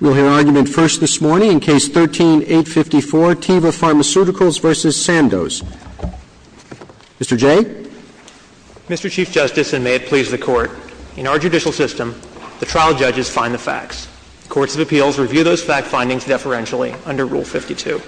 We'll hear argument first this morning in Case 13-854, Teva Pharmaceuticals v. Sandoz. Mr. Jay? Mr. Chief Justice, and may it please the Court, in our judicial system, the trial judges find the facts. Courts of appeals review those fact findings deferentially under Rule 52.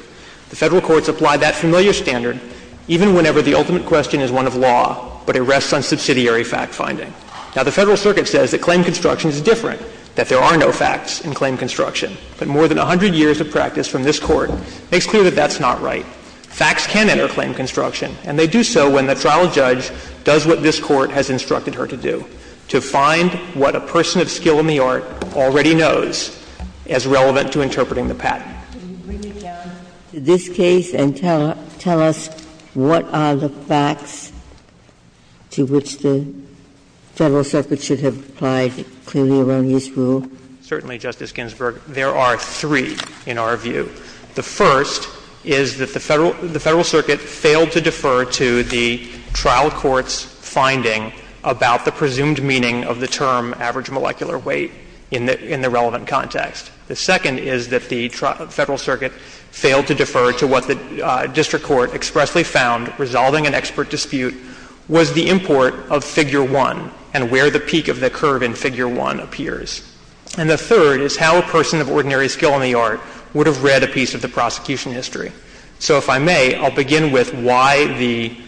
The Federal courts apply that familiar standard even whenever the ultimate question is one of law, but it rests on subsidiary fact finding. Now, the Federal circuit says that claim construction is different, that there are no facts in claim construction. But more than 100 years of practice from this Court makes clear that that's not right. Facts can enter claim construction, and they do so when the trial judge does what this Court has instructed her to do, to find what a person of skill in the art already knows as relevant to interpreting the patent. Can you bring me down to this case and tell us what are the facts to which the Federal circuit should have applied clearly around this rule? Certainly, Justice Ginsburg. There are three in our view. The first is that the Federal circuit failed to defer to the trial court's finding about the presumed meaning of the term average molecular weight in the relevant context. The second is that the Federal circuit failed to defer to what the district court expressly found, resolving an expert dispute, was the import of Figure 1 and where the peak of the curve in Figure 1 appears. And the third is how a person of ordinary skill in the art would have read a piece of the prosecution history. So if I may, I'll begin with why the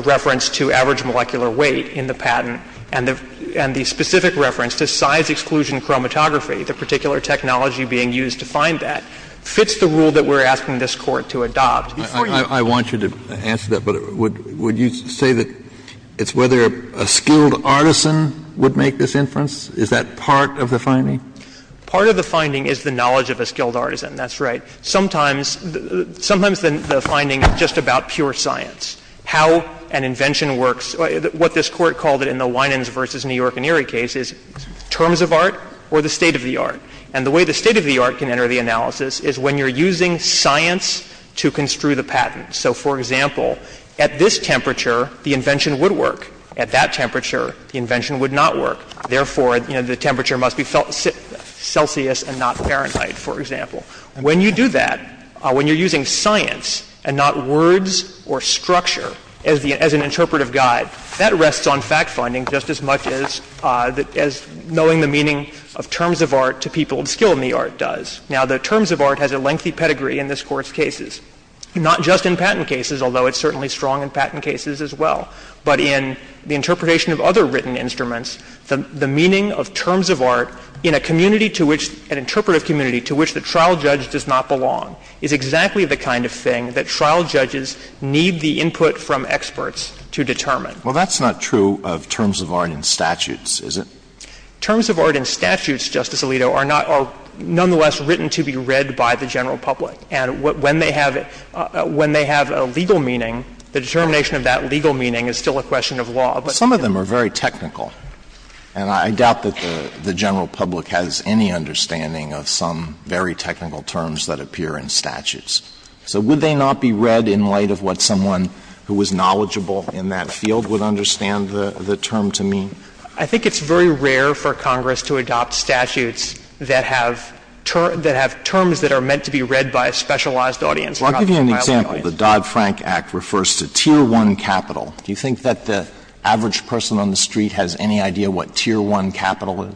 reference to average molecular weight in the patent and the specific reference to size-exclusion chromatography, the particular technology being used to find that, fits the rule that we're asking this Court to adopt. I want you to answer that, but would you say that it's whether a skilled artisan would make this inference? Is that part of the finding? Part of the finding is the knowledge of a skilled artisan, that's right. Sometimes the finding is just about pure science, how an invention works, what this case is, terms of art or the state of the art. And the way the state of the art can enter the analysis is when you're using science to construe the patent. So, for example, at this temperature, the invention would work. At that temperature, the invention would not work. Therefore, you know, the temperature must be Celsius and not Fahrenheit, for example. When you do that, when you're using science and not words or structure as an interpretive guide, that rests on fact-finding just as much as knowing the meaning of terms of art to people skilled in the art does. Now, the terms of art has a lengthy pedigree in this Court's cases, not just in patent cases, although it's certainly strong in patent cases as well, but in the interpretation of other written instruments. The meaning of terms of art in a community to which, an interpretive community to which the trial judge does not belong, is exactly the kind of thing that trial judges determine. Well, that's not true of terms of art in statutes, is it? Terms of art in statutes, Justice Alito, are not or nonetheless written to be read by the general public. And when they have a legal meaning, the determination of that legal meaning is still a question of law. Some of them are very technical. And I doubt that the general public has any understanding of some very technical terms that appear in statutes. So would they not be read in light of what someone who was knowledgeable in that field would understand the term to mean? I think it's very rare for Congress to adopt statutes that have terms that are meant to be read by a specialized audience. Well, I'll give you an example. The Dodd-Frank Act refers to Tier 1 capital. Do you think that the average person on the street has any idea what Tier 1 capital is?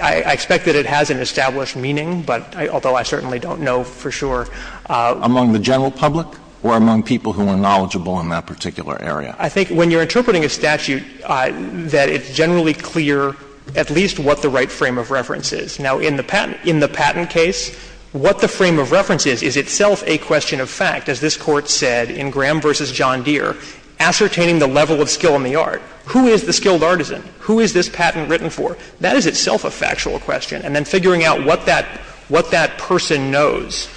I expect that it has an established meaning, but although I certainly don't know for sure. Among the general public or among people who are knowledgeable in that particular area? I think when you're interpreting a statute that it's generally clear at least what the right frame of reference is. Now, in the patent case, what the frame of reference is, is itself a question of fact. As this Court said in Graham v. John Deere, ascertaining the level of skill in the art. Who is the skilled artisan? Who is this patent written for? That is itself a factual question. And then figuring out what that person knows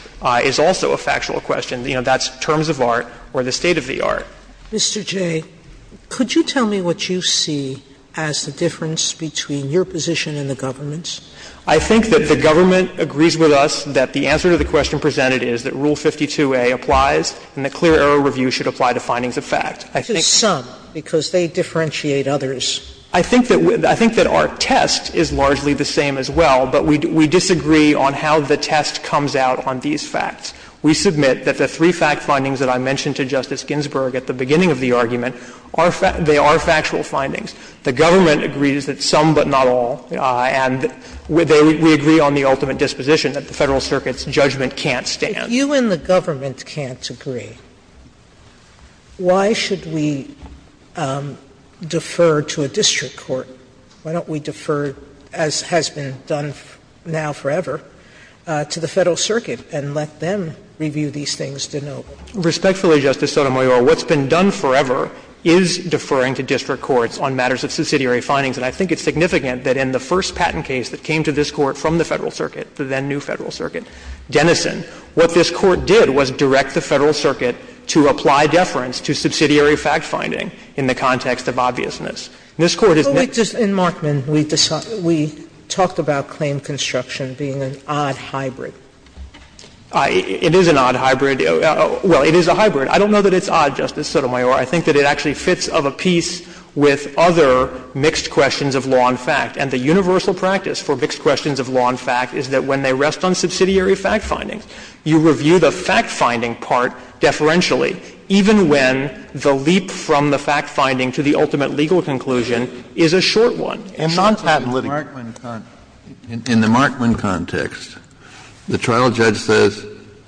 is also a factual question. You know, that's terms of art or the state of the art. Mr. Jay, could you tell me what you see as the difference between your position and the government's? I think that the government agrees with us that the answer to the question presented is that Rule 52a applies and that clear error review should apply to findings of fact. I think that's the case. To some, because they differentiate others. I think that our test is largely the same as well, but we disagree on how the test comes out on these facts. We submit that the three fact findings that I mentioned to Justice Ginsburg at the beginning of the argument, they are factual findings. The government agrees that some but not all, and we agree on the ultimate disposition that the Federal Circuit's judgment can't stand. Sotomayor, if you and the government can't agree, why should we defer to a district court? Why don't we defer, as has been done now forever, to the Federal Circuit and let them review these things to know? Respectfully, Justice Sotomayor, what's been done forever is deferring to district courts on matters of subsidiary findings, and I think it's significant that in the first patent case that came to this Court from the Federal Circuit, the then-new Federal Circuit, Denison, what this Court did was direct the Federal Circuit to apply deference to subsidiary fact-finding in the context of obviousness. And this Court is not going to do that. Sotomayor, in Markman, we talked about claim construction being an odd hybrid. It is an odd hybrid. Well, it is a hybrid. I don't know that it's odd, Justice Sotomayor. I think that it actually fits of a piece with other mixed questions of law and fact. And the universal practice for mixed questions of law and fact is that when they rest on subsidiary fact-finding, you review the fact-finding part deferentially, even when the leap from the fact-finding to the ultimate legal conclusion is a short one, a non-patent living. Kennedy, in the Markman context, the trial judge says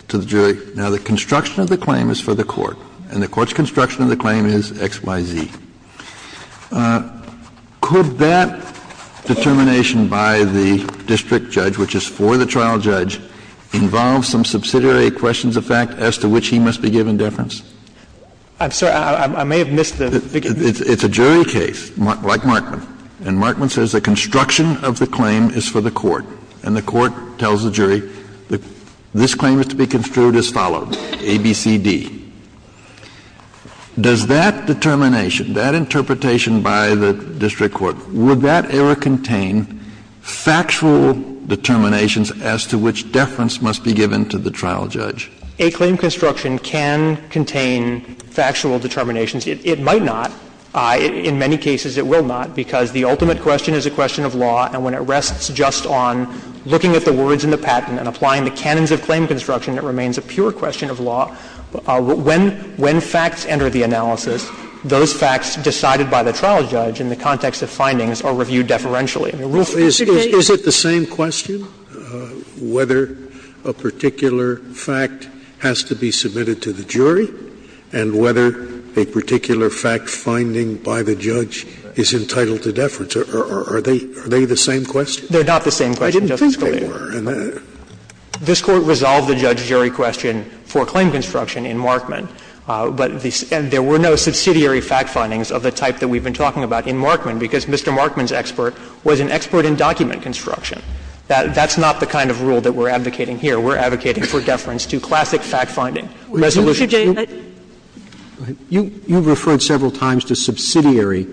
to the jury, now, the construction of the claim is for the Court, and the Court's construction of the claim is XYZ. Could that determination by the district judge, which is for the trial judge, involve some subsidiary questions of fact as to which he must be given deference? I'm sorry. I may have missed the figure. It's a jury case, like Markman. And Markman says the construction of the claim is for the Court. And the Court tells the jury that this claim is to be construed as follows, ABCD. Does that determination, that interpretation by the district court, would that error contain factual determinations as to which deference must be given to the trial judge? A claim construction can contain factual determinations. It might not. In many cases, it will not, because the ultimate question is a question of law. And when it rests just on looking at the words in the patent and applying the canons of claim construction, it remains a pure question of law. When facts enter the analysis, those facts decided by the trial judge in the context of findings are reviewed deferentially. Scalia. Scalia. Is it the same question, whether a particular fact has to be submitted to the jury and whether a particular fact finding by the judge is entitled to deference? Are they the same question? They're not the same question, Justice Scalia. I didn't think they were. This Court resolved the judge-jury question for claim construction in Markman. But there were no subsidiary fact findings of the type that we've been talking about in Markman, because Mr. Markman's expert was an expert in document construction. That's not the kind of rule that we're advocating here. We're advocating for deference to classic fact-finding resolutions. You've referred several times to subsidiary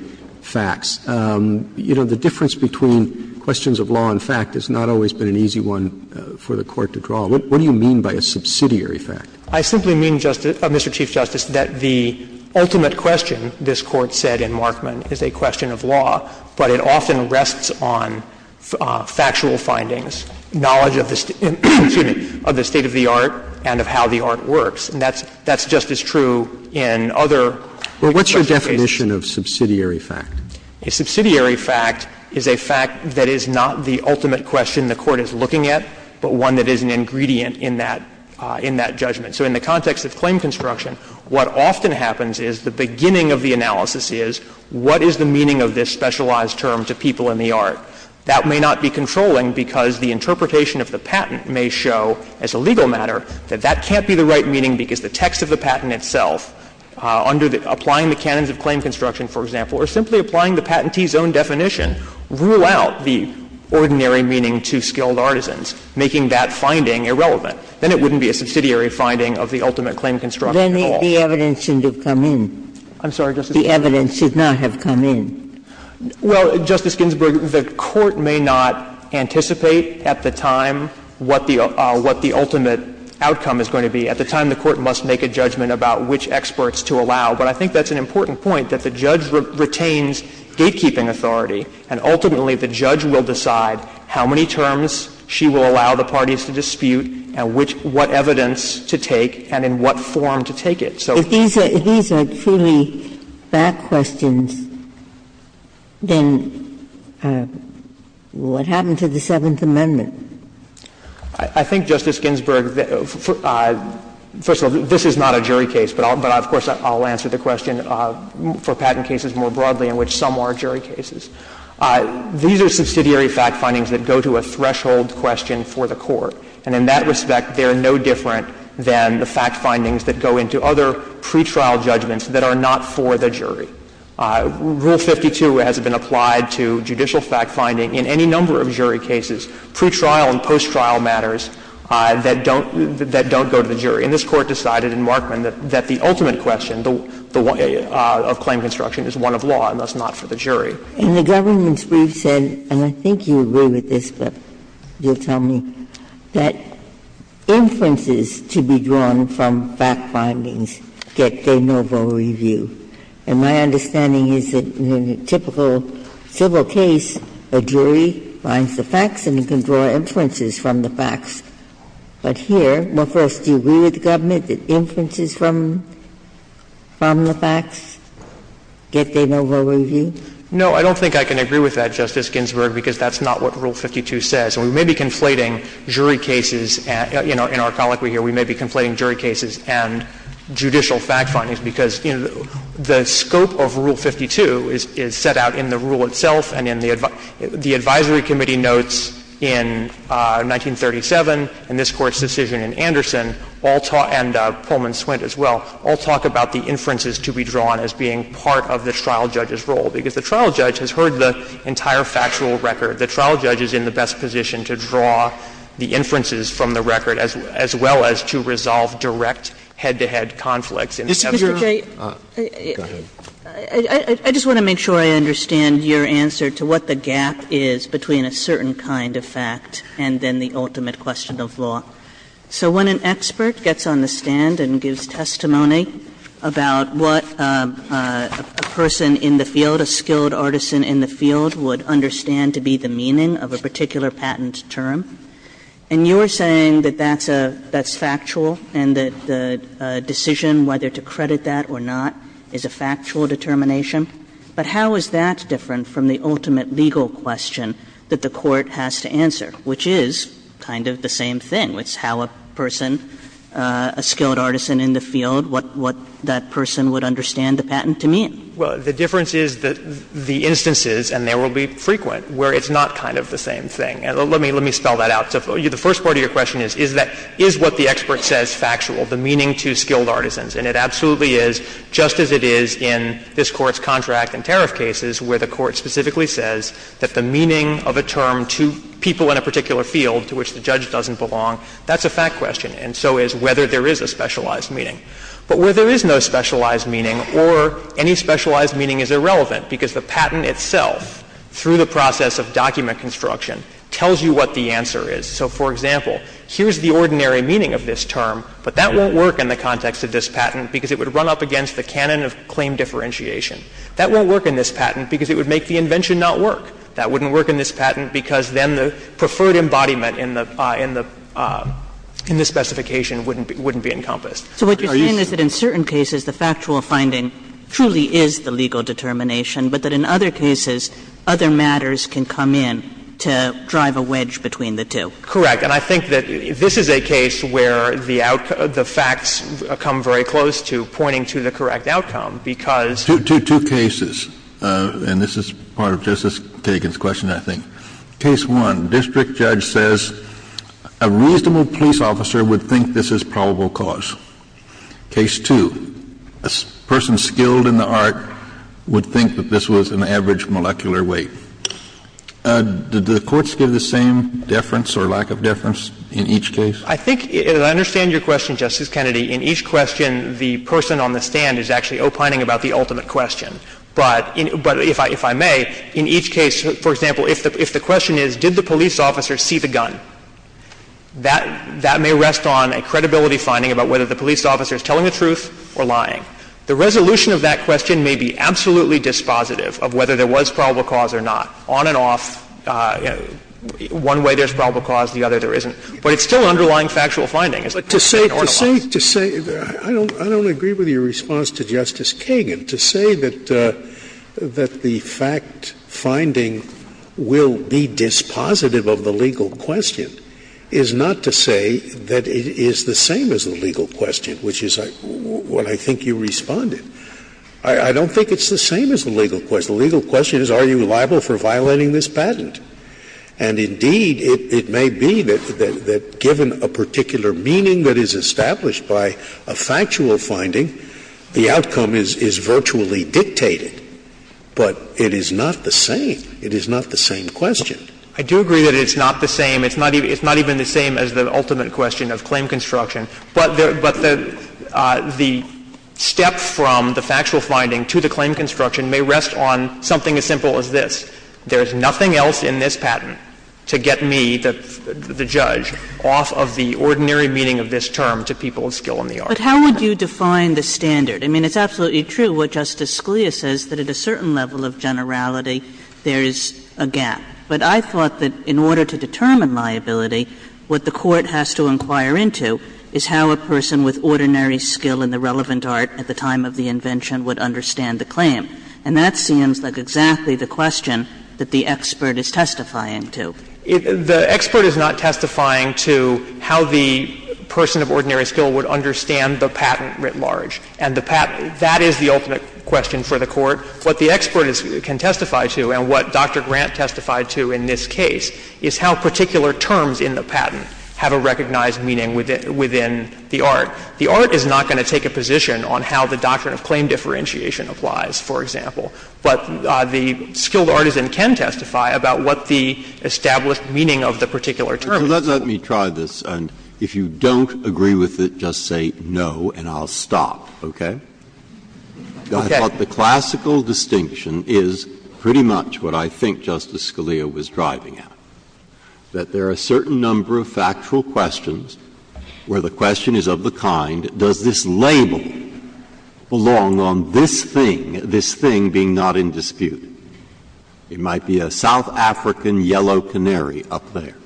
facts. You know, the difference between questions of law and fact has not always been an easy one for the Court to draw. What do you mean by a subsidiary fact? I simply mean, Mr. Chief Justice, that the ultimate question this Court said in Markman is a question of law, but it often rests on factual findings, knowledge of the State of the Art and of how the art works. And that's just as true in other cases. Well, what's your definition of subsidiary fact? A subsidiary fact is a fact that is not the ultimate question the Court is looking at, but one that is an ingredient in that judgment. So in the context of claim construction, what often happens is the beginning of the analysis is, what is the meaning of this specialized term to people in the art? That may not be controlling because the interpretation of the patent may show, as a legal matter, that that can't be the right meaning because the text of the patent itself, under the – applying the canons of claim construction, for example, or simply applying the patentee's own definition, rule out the ordinary meaning to skilled artisans, making that finding irrelevant. Then it wouldn't be a subsidiary finding of the ultimate claim construction at all. Then the evidence shouldn't have come in. I'm sorry, Justice Ginsburg. The evidence should not have come in. Well, Justice Ginsburg, the Court may not anticipate at the time what the ultimate outcome is going to be. At the time, the Court must make a judgment about which experts to allow. But I think that's an important point, that the judge retains gatekeeping authority, and ultimately the judge will decide how many terms she will allow the parties to dispute and which – what evidence to take and in what form to take it. So – If these are truly bad questions, then what happened to the Seventh Amendment? I think, Justice Ginsburg, first of all, this is not a jury case, but I'll – but of course, I'll answer the question for patent cases more broadly in which some are jury cases. These are subsidiary fact findings that go to a threshold question for the Court. And in that respect, they are no different than the fact findings that go into other pretrial judgments that are not for the jury. Rule 52 has been applied to judicial fact finding in any number of jury cases. Pretrial and post-trial matters that don't – that don't go to the jury. And this Court decided in Markman that the ultimate question of claim construction is one of law, and that's not for the jury. And the government's brief said, and I think you agree with this, but you'll tell me, that inferences to be drawn from fact findings get their noble review. And my understanding is that in a typical civil case, a jury finds the facts and can draw inferences from the facts. But here, well, first, do you agree with the government that inferences from the facts get their noble review? No, I don't think I can agree with that, Justice Ginsburg, because that's not what Rule 52 says. And we may be conflating jury cases, and in our colloquy here, we may be conflating jury cases and judicial fact findings, because, you know, the scope of Rule 52 is set out in the rule itself and in the advisory committee notes in 1937 and this Court's decision in Anderson, and Pullman Swint as well, all talk about the inferences to be drawn as being part of the trial judge's role, because the trial judge has heard the entire factual record. The trial judge is in the best position to draw the inferences from the record as well as to resolve direct head-to-head conflicts. And if you're a lawyer, you can draw the inferences from the record. Kagan. I just want to make sure I understand your answer to what the gap is between a certain kind of fact and then the ultimate question of law. So when an expert gets on the stand and gives testimony about what a person in the field, a skilled artisan in the field, would understand to be the meaning of a particular patent term, and you're saying that that's a – that's factual and that the decision whether to credit that or not is a factual determination, but how is that different from the ultimate legal question that the Court has to answer, which is kind of the same thing, which is how a person, a skilled artisan in the field, what that person would understand the patent to mean? Well, the difference is that the instances, and there will be frequent, where it's not kind of the same thing. Let me spell that out. The first part of your question is, is that – is what the expert says factual, the meaning to skilled artisans? And it absolutely is, just as it is in this Court's contract and tariff cases, where the Court specifically says that the meaning of a term to people in a particular field to which the judge doesn't belong, that's a fact question. And so is whether there is a specialized meaning. But where there is no specialized meaning or any specialized meaning is irrelevant, because the patent itself, through the process of document construction, tells you what the answer is. So, for example, here's the ordinary meaning of this term, but that won't work in the context of this patent because it would run up against the canon of claim differentiation. That won't work in this patent because it would make the invention not work. That wouldn't work in this patent because then the preferred embodiment in the – in the – in the specification wouldn't be encompassed. Are you saying that in certain cases the factual finding truly is the legal determination but that in other cases other matters can come in to drive a wedge between the two? Correct. And I think that this is a case where the facts come very close to pointing to the correct outcome, because to two cases, and this is part of Justice Kagan's question, I think. Case 1, district judge says a reasonable police officer would think this is probable cause. Case 2, a person skilled in the art would think that this was an average molecular weight. Do the courts give the same deference or lack of deference in each case? I think, and I understand your question, Justice Kennedy, in each question the person on the stand is actually opining about the ultimate question. But if I may, in each case, for example, if the question is did the police officer see the gun, that may rest on a credibility finding about whether the police officer is telling the truth or lying. The resolution of that question may be absolutely dispositive of whether there was probable cause or not. On and off, one way there's probable cause, the other there isn't. But it's still underlying factual finding. Scalia, or the law. Scalia, I don't agree with your response to Justice Kagan. To say that the fact finding will be dispositive of the legal question is not to say that it is the same as the legal question, which is what I think you responded. I don't think it's the same as the legal question. The legal question is are you liable for violating this patent? And indeed, it may be that given a particular meaning that is established by a factual finding, the outcome is virtually dictated. But it is not the same. It is not the same question. I do agree that it's not the same. It's not even the same as the ultimate question of claim construction. But the step from the factual finding to the claim construction may rest on something as simple as this. There is nothing else in this patent to get me, the judge, off of the ordinary meaning of this term to people of skill in the art. But how would you define the standard? I mean, it's absolutely true what Justice Scalia says, that at a certain level of generality there is a gap. But I thought that in order to determine liability, what the Court has to inquire into is how a person with ordinary skill in the relevant art at the time of the invention would understand the claim. And that seems like exactly the question that the expert is testifying to. The expert is not testifying to how the person of ordinary skill would understand the patent writ large. And the patent, that is the ultimate question for the Court. What the expert can testify to and what Dr. Grant testified to in this case is how particular terms in the patent have a recognized meaning within the art. The art is not going to take a position on how the doctrine of claim differentiation applies, for example. But the skilled artisan can testify about what the established meaning of the particular term is. Breyer. Let me try this. If you don't agree with it, just say no and I'll stop, okay? Okay. I thought the classical distinction is pretty much what I think Justice Scalia was driving at, that there are a certain number of factual questions where the question is of the kind, does this label belong on this thing, this thing being not in dispute? It might be a South African yellow canary up there.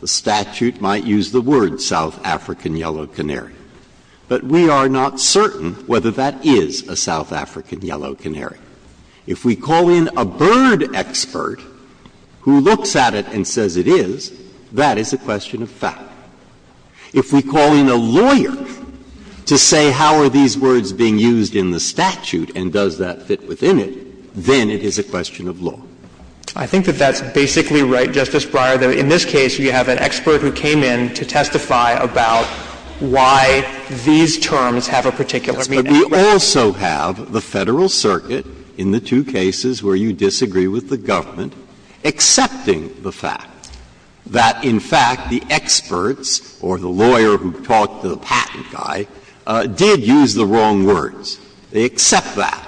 The statute might use the word South African yellow canary. But we are not certain whether that is a South African yellow canary. If we call in a bird expert who looks at it and says it is, that is a question of fact. If we call in a lawyer to say how are these words being used in the statute and does that fit within it, then it is a question of law. I think that that's basically right, Justice Breyer, that in this case you have an expert who came in to testify about why these terms have a particular meaning. Breyer. But we also have the Federal Circuit in the two cases where you disagree with the government accepting the fact that, in fact, the experts or the lawyer who talked to the patent guy did use the wrong words. They accept that.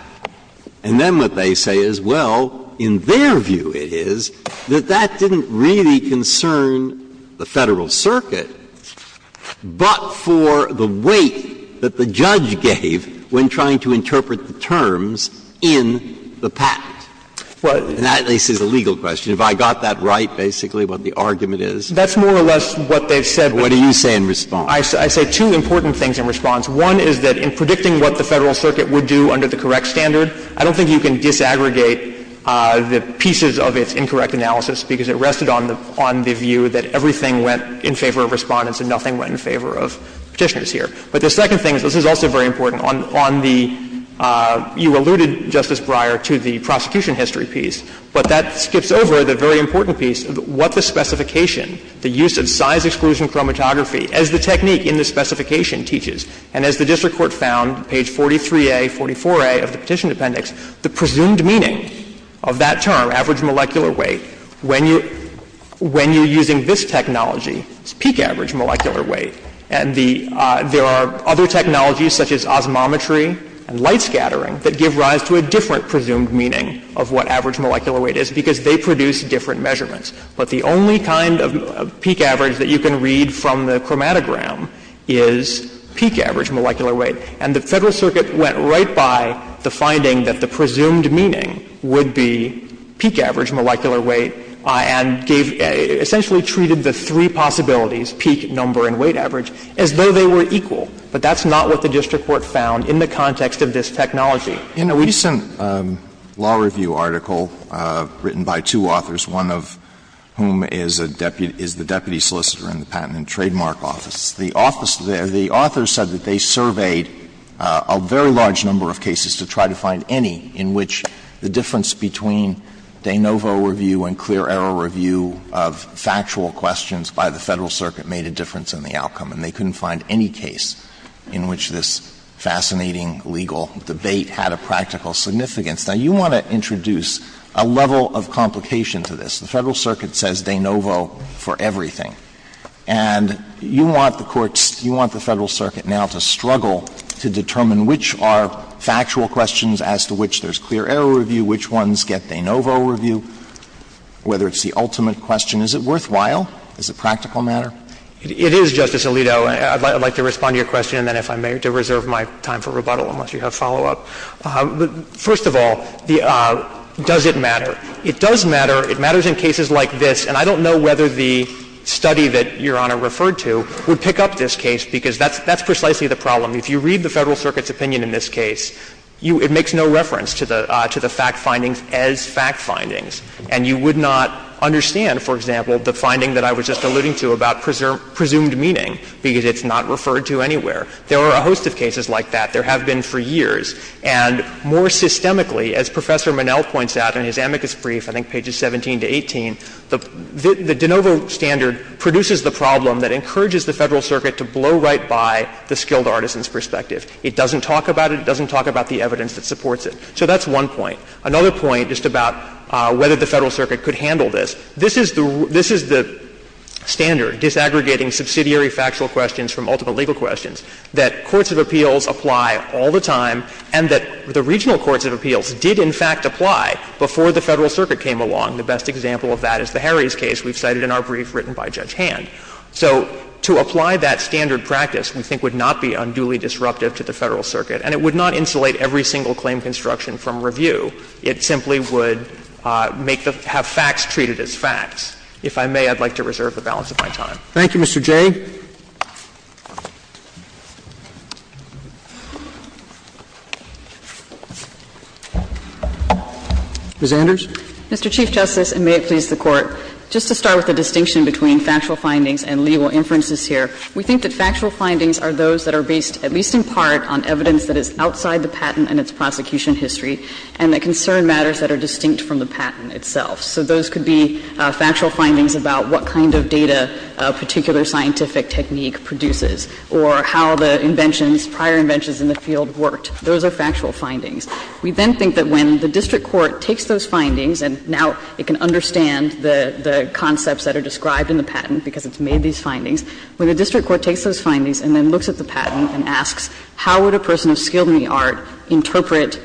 And then what they say is, well, in their view it is that that didn't really concern the Federal Circuit, but for the weight that the judge gave when trying to interpret the terms in the patent. And that, at least, is a legal question. Have I got that right, basically, what the argument is? That's more or less what they've said. What do you say in response? I say two important things in response. One is that in predicting what the Federal Circuit would do under the correct standard, I don't think you can disaggregate the pieces of its incorrect analysis, because it rested on the view that everything went in favor of Respondents and nothing went in favor of Petitioners here. But the second thing is, this is also very important, on the — you alluded, Justice Breyer, to the prosecution history piece, but that skips over the very important piece of what the specification, the use of size exclusion chromatography, as the technique in the specification teaches. And as the district court found, page 43A, 44A of the Petition Appendix, the presumed meaning of that term, average molecular weight, when you're using this technology, is peak average molecular weight. And the — there are other technologies, such as osmometry and light scattering, that give rise to a different presumed meaning of what average molecular weight is, because they produce different measurements. But the only kind of peak average that you can read from the chromatogram is peak average molecular weight. And the Federal Circuit went right by the finding that the presumed meaning would be peak average molecular weight and gave — essentially treated the three possibilities, peak, number, and weight average, as though they were equal. But that's not what the district court found in the context of this technology. Alito, in a recent law review article written by two authors, one of whom is a deputy — is the deputy solicitor in the Patent and Trademark Office, the office there, the author said that they surveyed a very large number of cases to try to find any in which the difference between de novo review and clear-error review of factual questions by the Federal Circuit made a difference in the outcome. And they couldn't find any case in which this fascinating legal debate had a practical significance. Now, you want to introduce a level of complication to this. The Federal Circuit says de novo for everything. And you want the courts — you want the Federal Circuit now to struggle to determine which are factual questions as to which there's clear-error review, which ones get de novo review, whether it's the ultimate question. Is it worthwhile? Does it practical matter? It is, Justice Alito. I'd like to respond to your question, and then if I may, to reserve my time for rebuttal unless you have follow-up. First of all, does it matter? It does matter. It matters in cases like this. And I don't know whether the study that Your Honor referred to would pick up this case, because that's precisely the problem. If you read the Federal Circuit's opinion in this case, it makes no reference to the fact findings as fact findings. And you would not understand, for example, the finding that I was just alluding to about presumed meaning, because it's not referred to anywhere. There are a host of cases like that. There have been for years. And more systemically, as Professor Minnell points out in his amicus brief, I think the de novo standard produces the problem that encourages the Federal Circuit to blow right by the skilled artisan's perspective. It doesn't talk about it. It doesn't talk about the evidence that supports it. So that's one point. Another point, just about whether the Federal Circuit could handle this, this is the standard disaggregating subsidiary factual questions from ultimate legal questions, that courts of appeals apply all the time and that the regional courts of appeals did in fact apply before the Federal Circuit came along. The best example of that is the Harries case we've cited in our brief written by Judge Hand. So to apply that standard practice, we think, would not be unduly disruptive to the Federal Circuit, and it would not insulate every single claim construction from review. It simply would make the — have facts treated as facts. If I may, I'd like to reserve the balance of my time. Roberts. Thank you, Mr. Jay. Ms. Anders. Mr. Chief Justice, and may it please the Court, just to start with the distinction between factual findings and legal inferences here, we think that factual findings are those that are based at least in part on evidence that is outside the patent and its prosecution history, and that concern matters that are distinct from the patent itself. So those could be factual findings about what kind of data a particular scientific technique produces or how the inventions, prior inventions in the field worked. Those are factual findings. We then think that when the district court takes those findings, and now it can understand the concepts that are described in the patent because it's made these findings, when the district court takes those findings and then looks at the patent and asks, how would a person of skill in the art interpret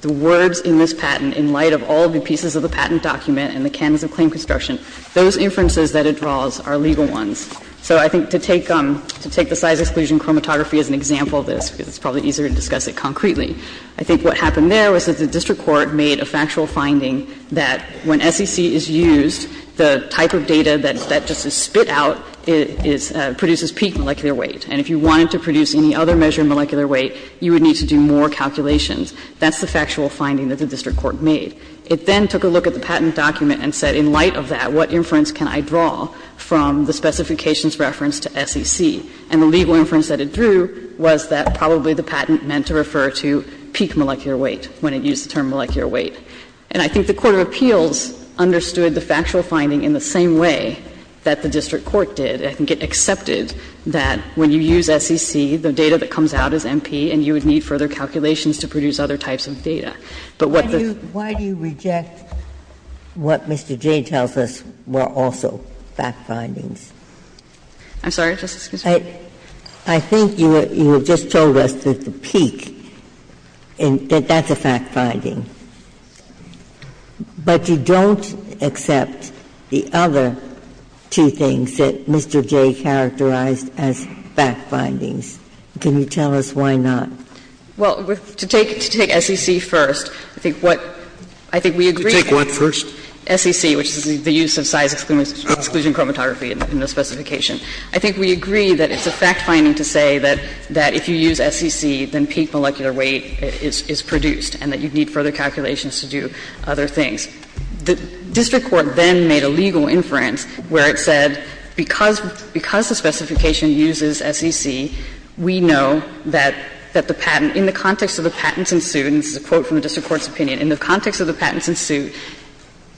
the words in this patent in light of all the pieces of the patent document and the canons of claim construction, those inferences that it draws are legal ones. So I think to take the size exclusion chromatography as an example of this, because it's probably easier to discuss it concretely. I think what happened there was that the district court made a factual finding that when SEC is used, the type of data that just is spit out is – produces peak molecular weight. And if you wanted to produce any other measure of molecular weight, you would need to do more calculations. That's the factual finding that the district court made. It then took a look at the patent document and said, in light of that, what inference can I draw from the specifications referenced to SEC? And the legal inference that it drew was that probably the patent meant to refer to peak molecular weight when it used the term molecular weight. And I think the court of appeals understood the factual finding in the same way that the district court did. I think it accepted that when you use SEC, the data that comes out is MP, and you would need further calculations to produce other types of data. But what the – Ginsburg. Why do you reject what Mr. Jay tells us were also fact findings? I'm sorry, Justice Ginsburg. I think you have just told us that the peak, that that's a fact finding. But you don't accept the other two things that Mr. Jay characterized as fact findings. Can you tell us why not? Well, to take SEC first, I think what – I think we agree that SEC, which is the use of size exclusion chromatography in the specification, I think we agree that it's a fact finding to say that if you use SEC, then peak molecular weight is produced, and that you'd need further calculations to do other things. The district court then made a legal inference where it said because the specification uses SEC, we know that the patent, in the context of the patents in suit, and this is a quote from the district court's opinion, in the context of the patents in suit,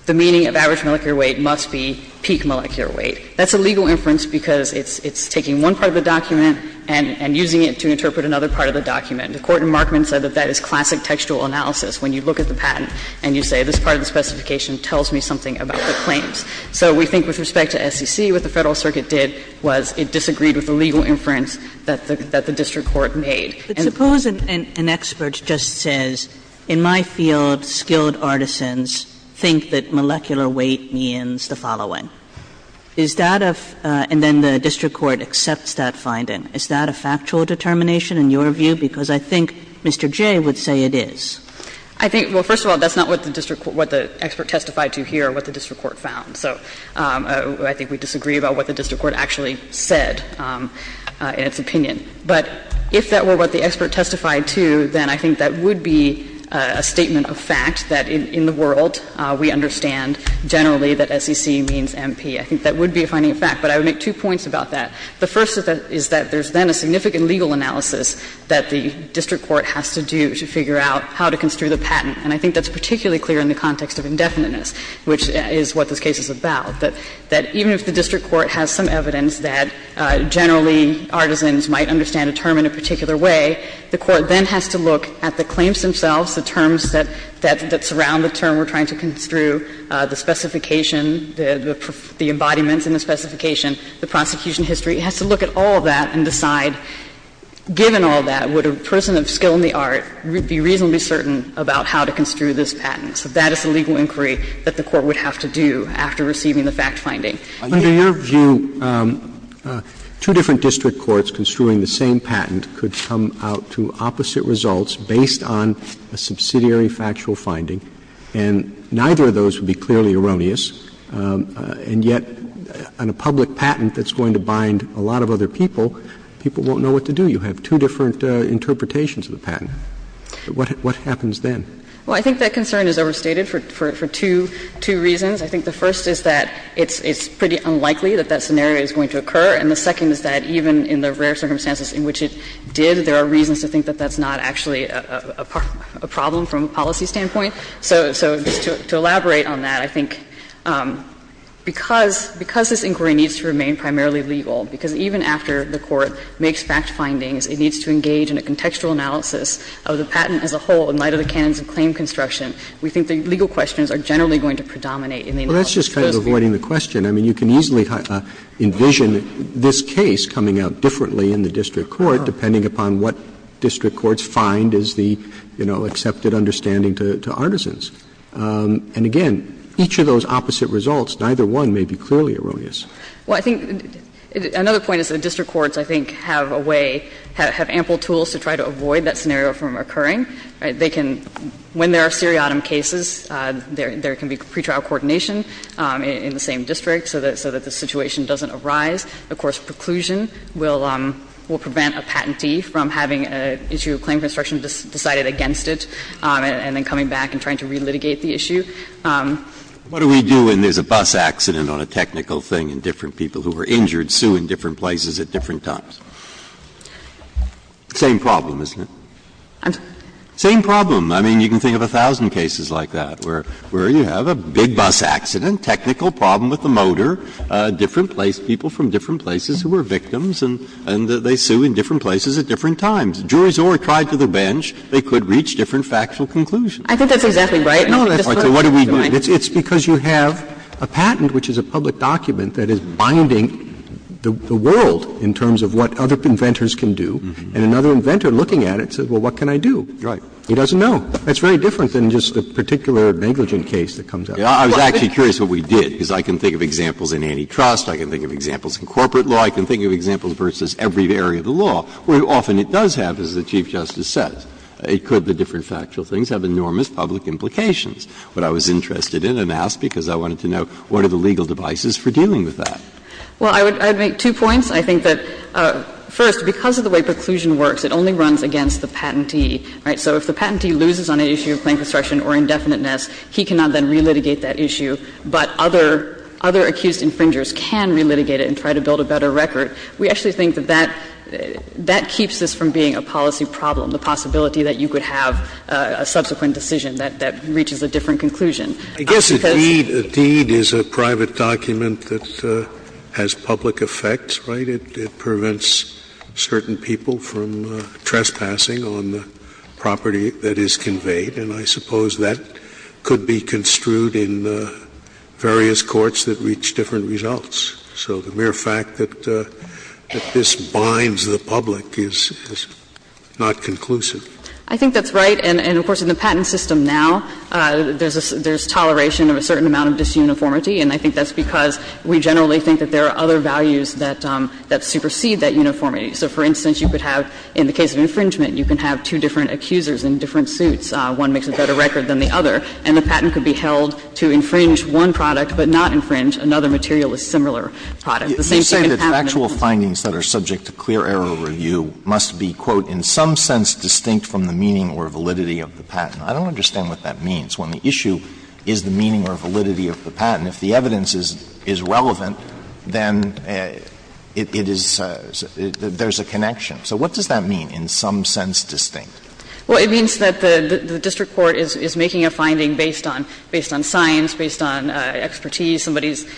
the meaning of average molecular weight must be peak molecular weight. That's a legal inference because it's taking one part of the document and using it to interpret another part of the document. The Court in Markman said that that is classic textual analysis. When you look at the patent and you say this part of the specification tells me something about the claims. So we think with respect to SEC, what the Federal Circuit did was it disagreed with the legal inference that the district court made. Kagan. But suppose an expert just says, in my field, skilled artisans think that molecular weight means the following. Is that a – and then the district court accepts that finding. Is that a factual determination in your view? Because I think Mr. Jay would say it is. I think – well, first of all, that's not what the district – what the expert testified to here, what the district court found. So I think we disagree about what the district court actually said in its opinion. But if that were what the expert testified to, then I think that would be a statement of fact, that in the world we understand generally that SEC means MP. I think that would be a finding of fact. But I would make two points about that. The first is that there's then a significant legal analysis that the district court has to do to figure out how to construe the patent. And I think that's particularly clear in the context of indefiniteness, which is what this case is about, that even if the district court has some evidence that generally artisans might understand a term in a particular way, the court then has to look at the claims themselves, the terms that surround the term we're trying to construe, the specification, the embodiments in the specification, the prosecution history, it has to look at all that and decide, given all that, would a person of skill in the art be reasonably certain about how to construe this patent? So that is the legal inquiry that the court would have to do after receiving the fact finding. Roberts. Under your view, two different district courts construing the same patent could come out to opposite results based on a subsidiary factual finding, and neither of those would be clearly erroneous, and yet on a public patent that's going to bind a lot of other people, people won't know what to do. You have two different interpretations of the patent. What happens then? Well, I think that concern is overstated for two reasons. I think the first is that it's pretty unlikely that that scenario is going to occur, and the second is that even in the rare circumstances in which it did, there are reasons to think that that's not actually a problem from a policy standpoint. So just to elaborate on that, I think because this inquiry needs to remain primarily legal, because even after the court makes fact findings, it needs to engage in a contextual analysis of the patent as a whole in light of the canons of claim construction, we think the legal questions are generally going to predominate in the analysis of those cases. Roberts Well, that's just kind of avoiding the question. I mean, you can easily envision this case coming out differently in the district court depending upon what district courts find is the, you know, accepted understanding to Artisans. And again, each of those opposite results, neither one may be clearly erroneous. Well, I think another point is that district courts, I think, have a way, have ample tools to try to avoid that scenario from occurring. They can, when there are seriatim cases, there can be pretrial coordination in the same district so that the situation doesn't arise. Of course, preclusion will prevent a patentee from having an issue of claim construction decided against it and then coming back and trying to relitigate the issue. Breyer What do we do when there's a bus accident on a technical thing and different people who were injured sue in different places at different times? Same problem, isn't it? I'm sorry. Breyer Same problem. I mean, you can think of a thousand cases like that where you have a big bus accident, technical problem with the motor, different place, people from different places who were victims and they sue in different places at different times. Juries or tried to the bench, they could reach different factual conclusions. I think that's exactly right. Breyer No, that's not true. What do we do? It's because you have a patent, which is a public document, that is binding the world in terms of what other inventors can do. And another inventor looking at it says, well, what can I do? He doesn't know. That's very different than just the particular negligent case that comes up. Breyer I was actually curious what we did, because I can think of examples in antitrust, I can think of examples in corporate law, I can think of examples versus every area of the law, where often it does have, as the Chief Justice says, it could, the different factual things, have enormous public implications. What I was interested in and asked because I wanted to know, what are the legal devices for dealing with that? Well, I would make two points. I think that, first, because of the way preclusion works, it only runs against the patentee, right? So if the patentee loses on an issue of claim construction or indefiniteness, he cannot then relitigate that issue, but other accused infringers can relitigate it and try to build a better record. We actually think that that keeps this from being a policy problem, the possibility that you could have a subsequent decision that reaches a different conclusion. I guess a deed, a deed is a private document that has public effect, right? It prevents certain people from trespassing on the property that is conveyed. And I suppose that could be construed in the various courts that reach different results. So the mere fact that this binds the public is not conclusive. I think that's right. And, of course, in the patent system now, there's toleration of a certain amount of disuniformity, and I think that's because we generally think that there are other values that supersede that uniformity. So, for instance, you could have, in the case of infringement, you can have two different accusers in different suits. One makes a better record than the other, and the patent could be held to infringe one product but not infringe another material with a similar product. The same thing can happen in the case of infringement. You're saying that factual findings that are subject to clear error review must be, quote, "...in some sense distinct from the meaning or validity of the patent." I don't understand what that means. When the issue is the meaning or validity of the patent, if the evidence is relevant, then it is — there's a connection. So what does that mean, in some sense distinct? Well, it means that the district court is making a finding based on science, based on expertise, somebody's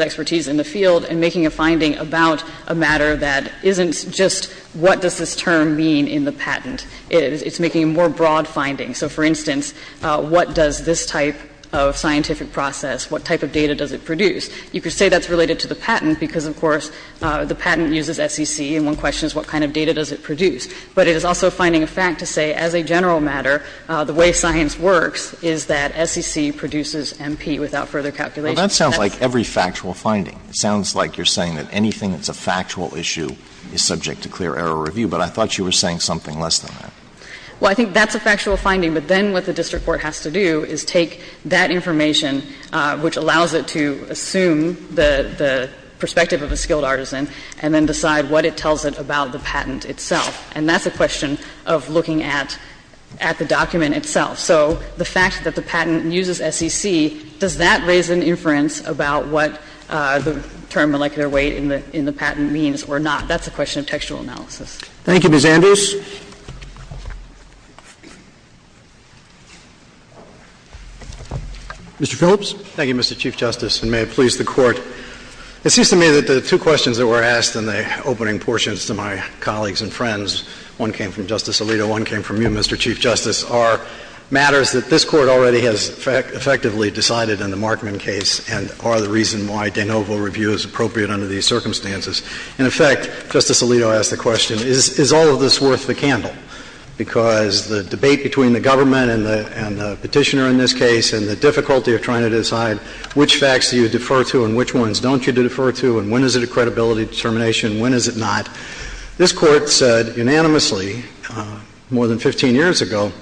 expertise in the field, and making a finding about a matter that isn't just what does this term mean in the patent. It's making a more broad finding. So, for instance, what does this type of scientific process, what type of data does it produce? You could say that's related to the patent because, of course, the patent uses SEC, and one question is what kind of data does it produce. But it is also finding a fact to say, as a general matter, the way science works is that SEC produces MP without further calculation. Well, that sounds like every factual finding. It sounds like you're saying that anything that's a factual issue is subject to clear error review, but I thought you were saying something less than that. Well, I think that's a factual finding, but then what the district court has to do is take that information, which allows it to assume the perspective of a skilled artisan, and then decide what it tells it about the patent itself. And that's a question of looking at the document itself. So the fact that the patent uses SEC, does that raise an inference about what the term molecular weight in the patent means or not? That's a question of textual analysis. Thank you. Ms. Andrews. Mr. Phillips. Thank you, Mr. Chief Justice, and may it please the Court. It seems to me that the two questions that were asked in the opening portions to my colleagues and friends, one came from Justice Alito, one came from you, Mr. Chief Justice, are matters that this Court already has effectively decided in the Markman case and are the reason why de novo review is appropriate under these circumstances. In effect, Justice Alito asked the question, is all of this worth the candle? Because the debate between the government and the Petitioner in this case and the difficulty of trying to decide which facts do you defer to and which ones don't you defer to and when is it a credibility determination, when is it not, this Court said unanimously more than 15 years ago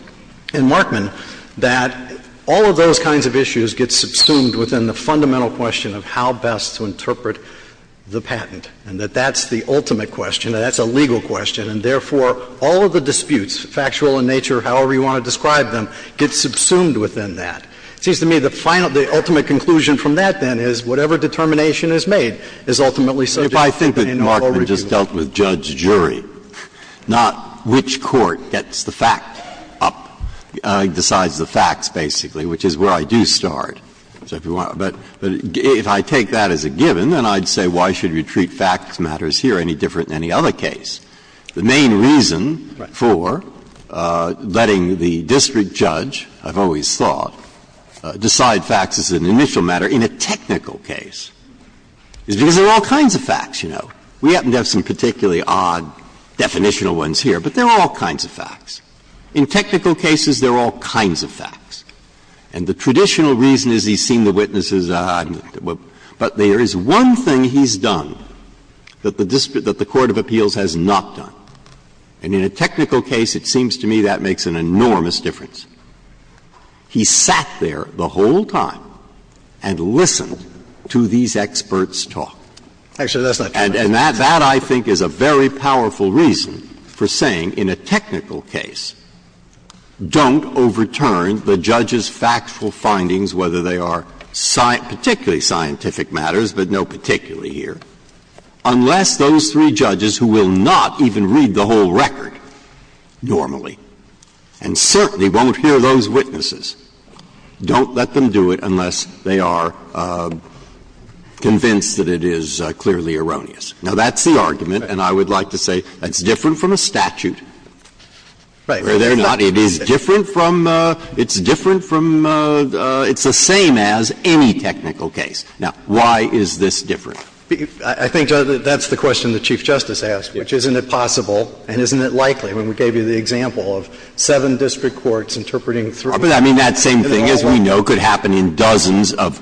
in Markman that all of those kinds of issues get subsumed within the fundamental question of how best to interpret the patent and that that's the ultimate question, that that's a legal question, and therefore, all of the disputes, factual in nature, however you want to describe them, get subsumed within that. It seems to me the final, the ultimate conclusion from that, then, is whatever determination is made is ultimately subject to de novo review. Breyer, I just dealt with judge-jury, not which court gets the fact up, decides the facts, basically, which is where I do start. But if I take that as a given, then I'd say why should we treat facts matters here any different than any other case? The main reason for letting the district judge, I've always thought, decide facts as an initial matter in a technical case is because there are all kinds of facts, you know. We happen to have some particularly odd definitional ones here, but there are all kinds of facts. In technical cases, there are all kinds of facts. And the traditional reason is he's seen the witnesses, but there is one thing he's done that the court of appeals has not done. And in a technical case, it seems to me that makes an enormous difference. He sat there the whole time and listened to these experts talk. Actually, that's not true. And that, I think, is a very powerful reason for saying in a technical case, don't overturn the judge's factual findings, whether they are particularly scientific matters, but no particularly here, unless those three judges who will not even read the whole record normally and certainly won't hear those witnesses, don't let them do it unless they are convinced that it is clearly erroneous. Now, that's the argument, and I would like to say that's different from a statute. Where they're not, it is different from, it's different from, it's the same as any technical case. Now, why is this different? I think that's the question the Chief Justice asked, which isn't it possible and isn't it likely? I mean, we gave you the example of seven district courts interpreting three. I mean, that same thing, as we know, could happen in dozens of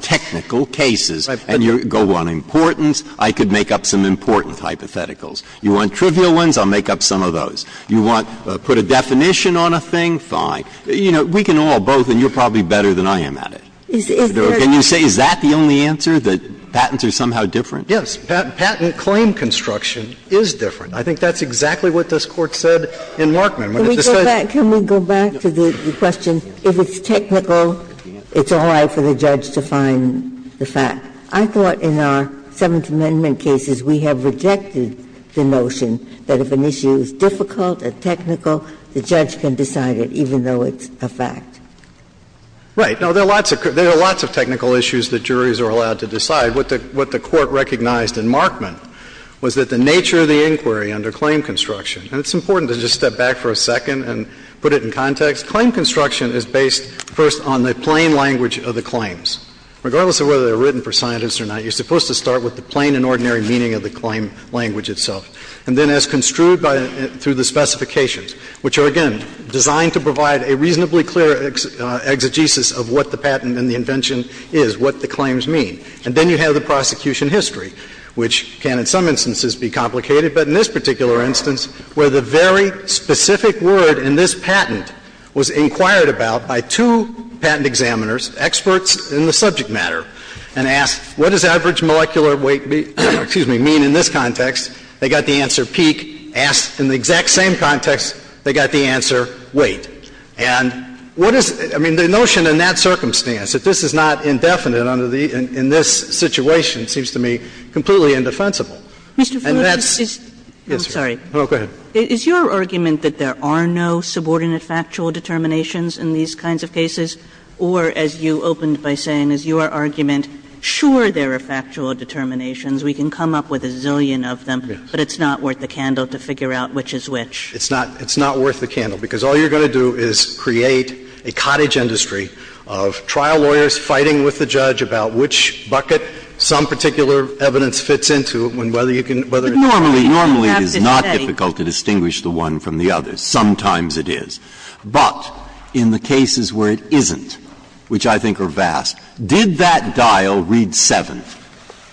technical cases. And you go on importance. I could make up some important hypotheticals. You want trivial ones, I'll make up some of those. You want to put a definition on a thing, fine. You know, we can all, both, and you're probably better than I am at it. Can you say is that the only answer, that patents are somehow different? Yes. Patent claim construction is different. I think that's exactly what this Court said in Markman. Can we go back, can we go back to the question, if it's technical, it's all right for the judge to find the fact. I thought in our Seventh Amendment cases we have rejected the notion that if an issue is difficult or technical, the judge can decide it, even though it's a fact. Right. Now, there are lots of technical issues that juries are allowed to decide. What the Court recognized in Markman was that the nature of the inquiry under claim construction, and it's important to just step back for a second and put it in context, claim construction is based first on the plain language of the claims. Regardless of whether they're written for scientists or not, you're supposed to start with the plain and ordinary meaning of the claim language itself, and then as construed through the specifications, which are, again, designed to provide a reasonably clear exegesis of what the patent and the invention is, what the claims mean. And then you have the prosecution history, which can, in some instances, be complicated. But in this particular instance, where the very specific word in this patent was inquired about by two patent examiners, experts in the subject matter, and asked what does average molecular weight be — excuse me, mean in this context, they got the answer peak, asked in the exact same context, they got the answer weight. And what is — I mean, the notion in that circumstance, that this is not indefinite under the — in this situation seems to me completely indefensible. And that's — And that's — Kagan. I'm sorry. Go ahead. Is your argument that there are no subordinate factual determinations in these kinds of cases? Or, as you opened by saying, is your argument, sure, there are factual determinations, we can come up with a zillion of them, but it's not worth the candle to figure out which is which? It's not worth the candle, because all you're going to do is create a cottage industry of trial lawyers fighting with the judge about which bucket some particular evidence fits into, and whether you can — Normally, normally it is not difficult to distinguish the one from the other. Sometimes it is. But in the cases where it isn't, which I think are vast, did that dial read 7?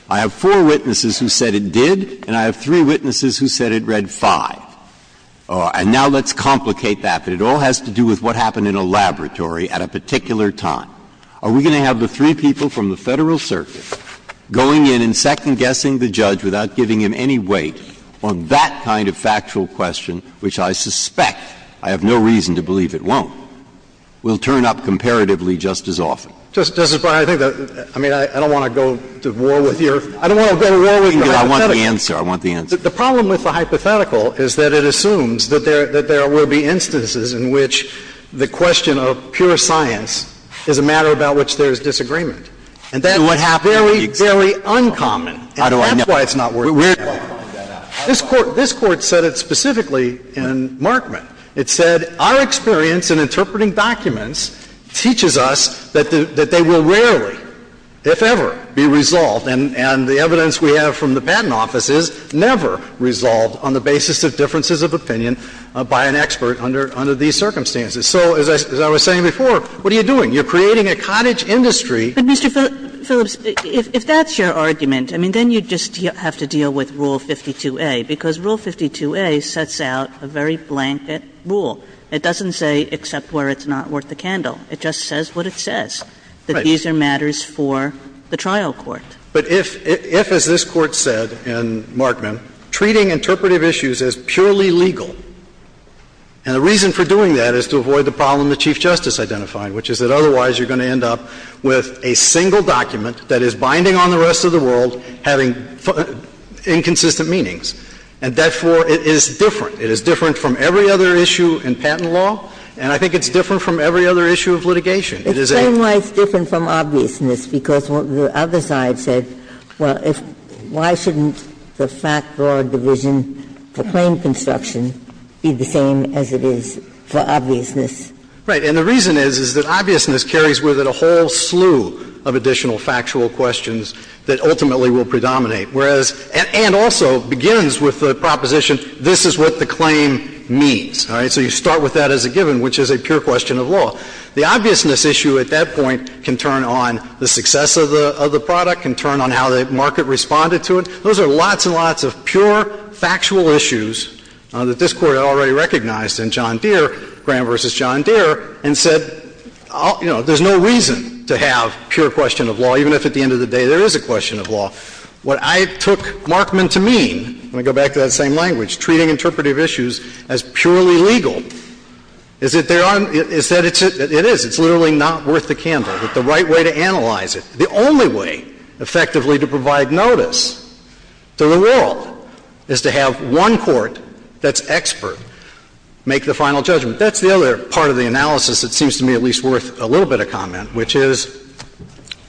I have four witnesses who said it did, and I have three witnesses who said it read 5. And now let's complicate that, that it all has to do with what happened in a laboratory at a particular time. Are we going to have the three people from the Federal Circuit going in and second-guessing the judge without giving him any weight on that kind of factual question, which I suspect, I have no reason to believe it won't, will turn up comparatively just as often? Justice Breyer, I think that — I mean, I don't want to go to war with your — I don't want to go to war with your hypothetical. I want the answer. I want the answer. The problem with the hypothetical is that it assumes that there will be instances in which the question of pure science is a matter about which there is disagreement. And that is very, very uncommon. And that's why it's not working. This Court said it specifically in Markman. It said our experience in interpreting documents teaches us that they will rarely, if ever, be resolved. And the evidence we have from the Patent Office is never resolved on the basis of differences of opinion by an expert under — under these circumstances. So, as I was saying before, what are you doing? You're creating a cottage industry. But, Mr. Phillips, if that's your argument, I mean, then you just have to deal with Rule 52a, because Rule 52a sets out a very blanket rule. It doesn't say except where it's not worth a candle. It just says what it says, that these are matters for the trial court. But if — if, as this Court said in Markman, treating interpretive issues as purely legal — and the reason for doing that is to avoid the problem that Chief Justice identified, which is that otherwise you're going to end up with a single document that is binding on the rest of the world, having inconsistent meanings. And, therefore, it is different. It is different from every other issue in patent law, and I think it's different from every other issue of litigation. It is a — It's saying why it's different from obviousness, because the other side said, well, if — why shouldn't the fact-law division for claim construction be the same as it is for obviousness? Right. And the reason is, is that obviousness carries with it a whole slew of additional factual questions that ultimately will predominate, whereas — and also begins with the proposition, this is what the claim means, all right? So you start with that as a given, which is a pure question of law. The obviousness issue at that point can turn on the success of the product, can turn on how the market responded to it. Those are lots and lots of pure, factual issues that this Court already recognized in John Deere, Graham v. John Deere, and said, you know, there's no reason to have pure question of law, even if at the end of the day there is a question of law. What I took Markman to mean — let me go back to that same language — treating interpretive issues as purely legal is that there are — is that it's — it is. It's literally not worth the candle. But the right way to analyze it, the only way, effectively, to provide notice to the world is to have one court that's expert make the final judgment. That's the other part of the analysis that seems to me at least worth a little bit of comment, which is,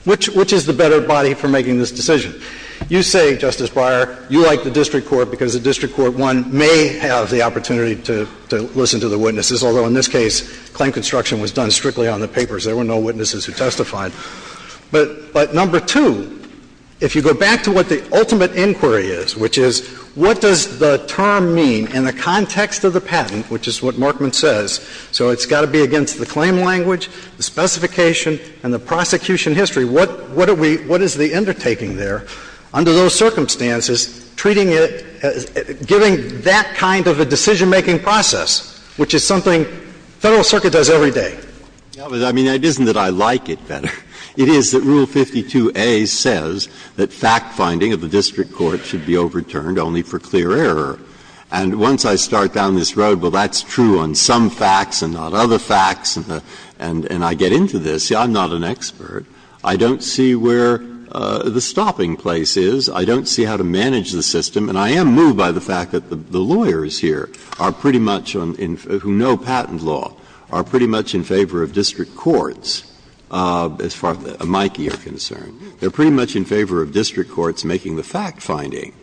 which is the better body for making this decision? You say, Justice Breyer, you like the district court because the district court, one, may have the opportunity to listen to the witnesses, although in this case claim construction was done strictly on the papers. There were no witnesses who testified. But number two, if you go back to what the ultimate inquiry is, which is what does the term mean in the context of the patent, which is what Markman says, so it's got to be against the claim language, the specification, and the prosecution history, what are we — what is the undertaking there? Under those circumstances, treating it — giving that kind of a decision-making process, which is something the Federal Circuit does every day. Breyer, I mean, it isn't that I like it better. It is that Rule 52a says that fact-finding of the district court should be overturned only for clear error. And once I start down this road, well, that's true on some facts and not other facts, and I get into this. See, I'm not an expert. I don't see where the stopping place is. I don't see how to manage the system. And I am moved by the fact that the lawyers here are pretty much on — who know patent law, are pretty much in favor of district courts, as far as the amici are concerned. They're pretty much in favor of district courts making the fact-finding.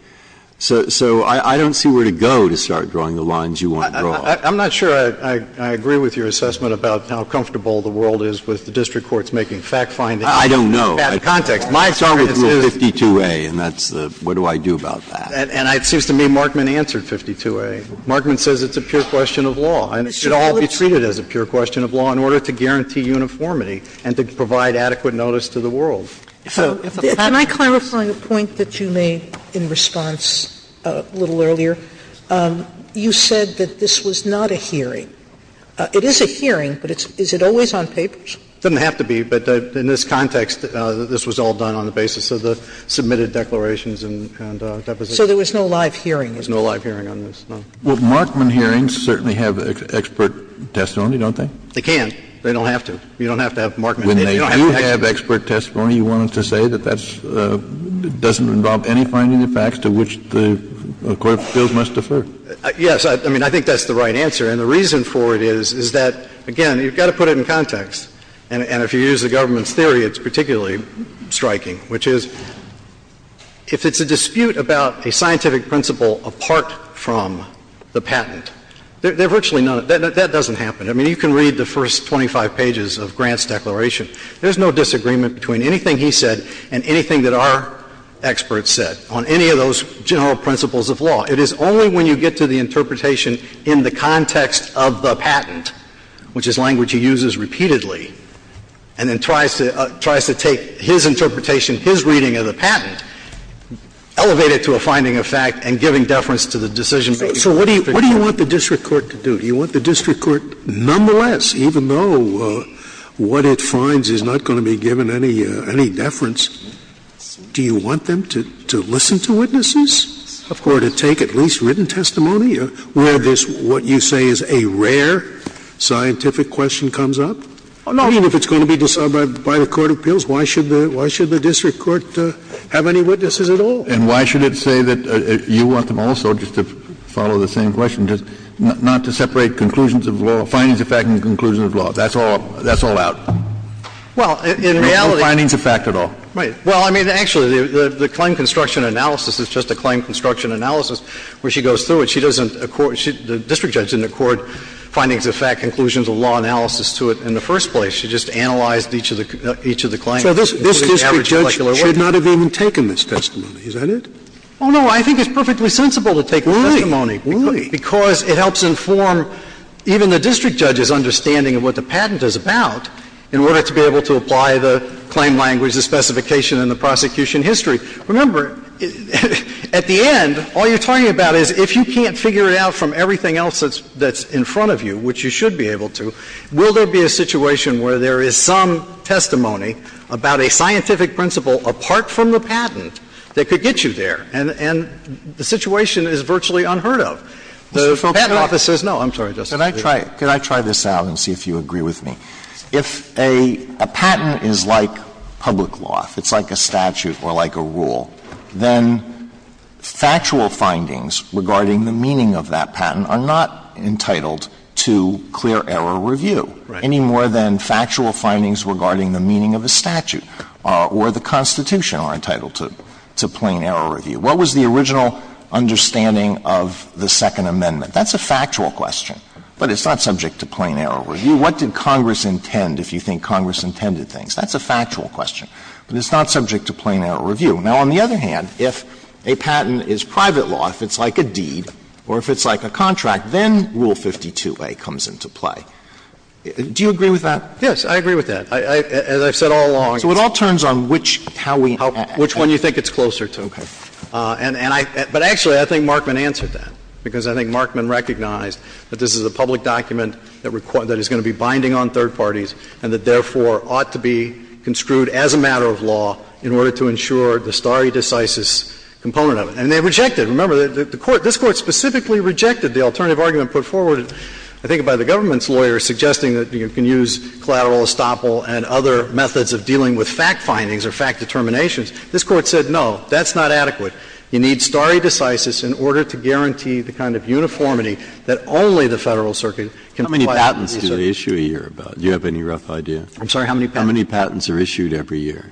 So I don't see where to go to start drawing the lines you want to draw. I'm not sure I agree with your assessment about how comfortable the world is with the fact-finding. Breyer, I don't know. My experience is 52a, and that's the — what do I do about that? And it seems to me Markman answered 52a. Markman says it's a pure question of law, and it should all be treated as a pure question of law in order to guarantee uniformity and to provide adequate notice to the world. Sotomayor, can I clarify the point that you made in response a little earlier? You said that this was not a hearing. It is a hearing, but is it always on papers? It doesn't have to be, but in this context, this was all done on the basis of the submitted declarations and depositions. So there was no live hearing? There was no live hearing on this, no. Well, Markman hearings certainly have expert testimony, don't they? They can. They don't have to. You don't have to have Markman. When they do have expert testimony, you wanted to say that that's — doesn't involve any finding of facts to which the court feels must defer? Yes. I mean, I think that's the right answer. And the reason for it is, is that, again, you've got to put it in context. And if you use the government's theory, it's particularly striking, which is, if it's a dispute about a scientific principle apart from the patent, there are virtually none. That doesn't happen. I mean, you can read the first 25 pages of Grant's declaration. There's no disagreement between anything he said and anything that our experts said on any of those general principles of law. It is only when you get to the interpretation in the context of the patent, which is language he uses repeatedly, and then tries to — tries to take his interpretation, his reading of the patent, elevate it to a finding of fact, and giving deference to the decision-making. So what do you — what do you want the district court to do? Do you want the district court, nonetheless, even though what it finds is not going to be given any — any deference, do you want them to — to listen to witnesses? Of course. Or to take at least written testimony? I mean, where this — what you say is a rare scientific question comes up? I mean, if it's going to be decided by the court of appeals, why should the — why should the district court have any witnesses at all? And why should it say that you want them also, just to follow the same question, just not to separate conclusions of law — findings of fact and conclusions of law? That's all — that's all out. Well, in reality — No findings of fact at all. Right. Well, I mean, actually, the — the claim construction analysis is just a claim construction analysis where she goes through it. She doesn't accord — the district judge didn't accord findings of fact, conclusions of law analysis to it in the first place. She just analyzed each of the — each of the claims. So this — this district judge should not have even taken this testimony. Is that it? Oh, no. I think it's perfectly sensible to take this testimony. Really? Really. Because it helps inform even the district judge's understanding of what the patent is about in order to be able to apply the claim language, the specification and the prosecution history. Remember, at the end, all you're talking about is if you can't figure it out from everything else that's — that's in front of you, which you should be able to, will there be a situation where there is some testimony about a scientific principle apart from the patent that could get you there? And — and the situation is virtually unheard of. The patent office says no. I'm sorry, Justice Scalia. Can I try — can I try this out and see if you agree with me? If a — a patent is like public law, if it's like a statute or like a rule, then factual findings regarding the meaning of that patent are not entitled to clear error review any more than factual findings regarding the meaning of a statute or the Constitution are entitled to — to plain error review. What was the original understanding of the Second Amendment? That's a factual question, but it's not subject to plain error review. What did Congress intend, if you think Congress intended things? That's a factual question, but it's not subject to plain error review. Now, on the other hand, if a patent is private law, if it's like a deed or if it's like a contract, then Rule 52a comes into play. Do you agree with that? Yes, I agree with that. As I've said all along — So it all turns on which — how we — which one you think it's closer to. Okay. And I — but actually, I think Markman answered that, because I think Markman recognized that this is a public document that is going to be binding on third parties and that, therefore, ought to be construed as a matter of law in order to ensure the stare decisis component of it. And they rejected it. Remember, the Court — this Court specifically rejected the alternative argument put forward, I think, by the government's lawyers, suggesting that you can use collateral estoppel and other methods of dealing with fact findings or fact determinations. This Court said, no, that's not adequate. You need stare decisis in order to guarantee the kind of uniformity that only the Federal Circuit can apply to these cases. How many patents do they issue a year about? Do you have any rough idea? I'm sorry, how many patents? How many patents are issued every year?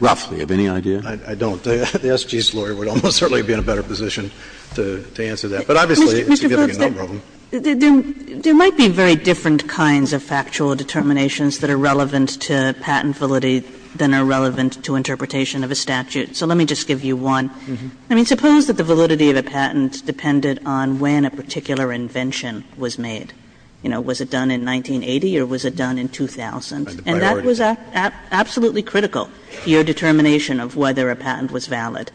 Roughly. Do you have any idea? I don't. The SG's lawyer would almost certainly be in a better position to answer that. But obviously, it's a significant number of them. There might be very different kinds of factual determinations that are relevant to patent validity than are relevant to interpretation of a statute. So let me just give you one. I mean, suppose that the validity of a patent depended on when a particular invention was made. You know, was it done in 1980 or was it done in 2000? And that was absolutely critical, your determination of whether a patent was valid.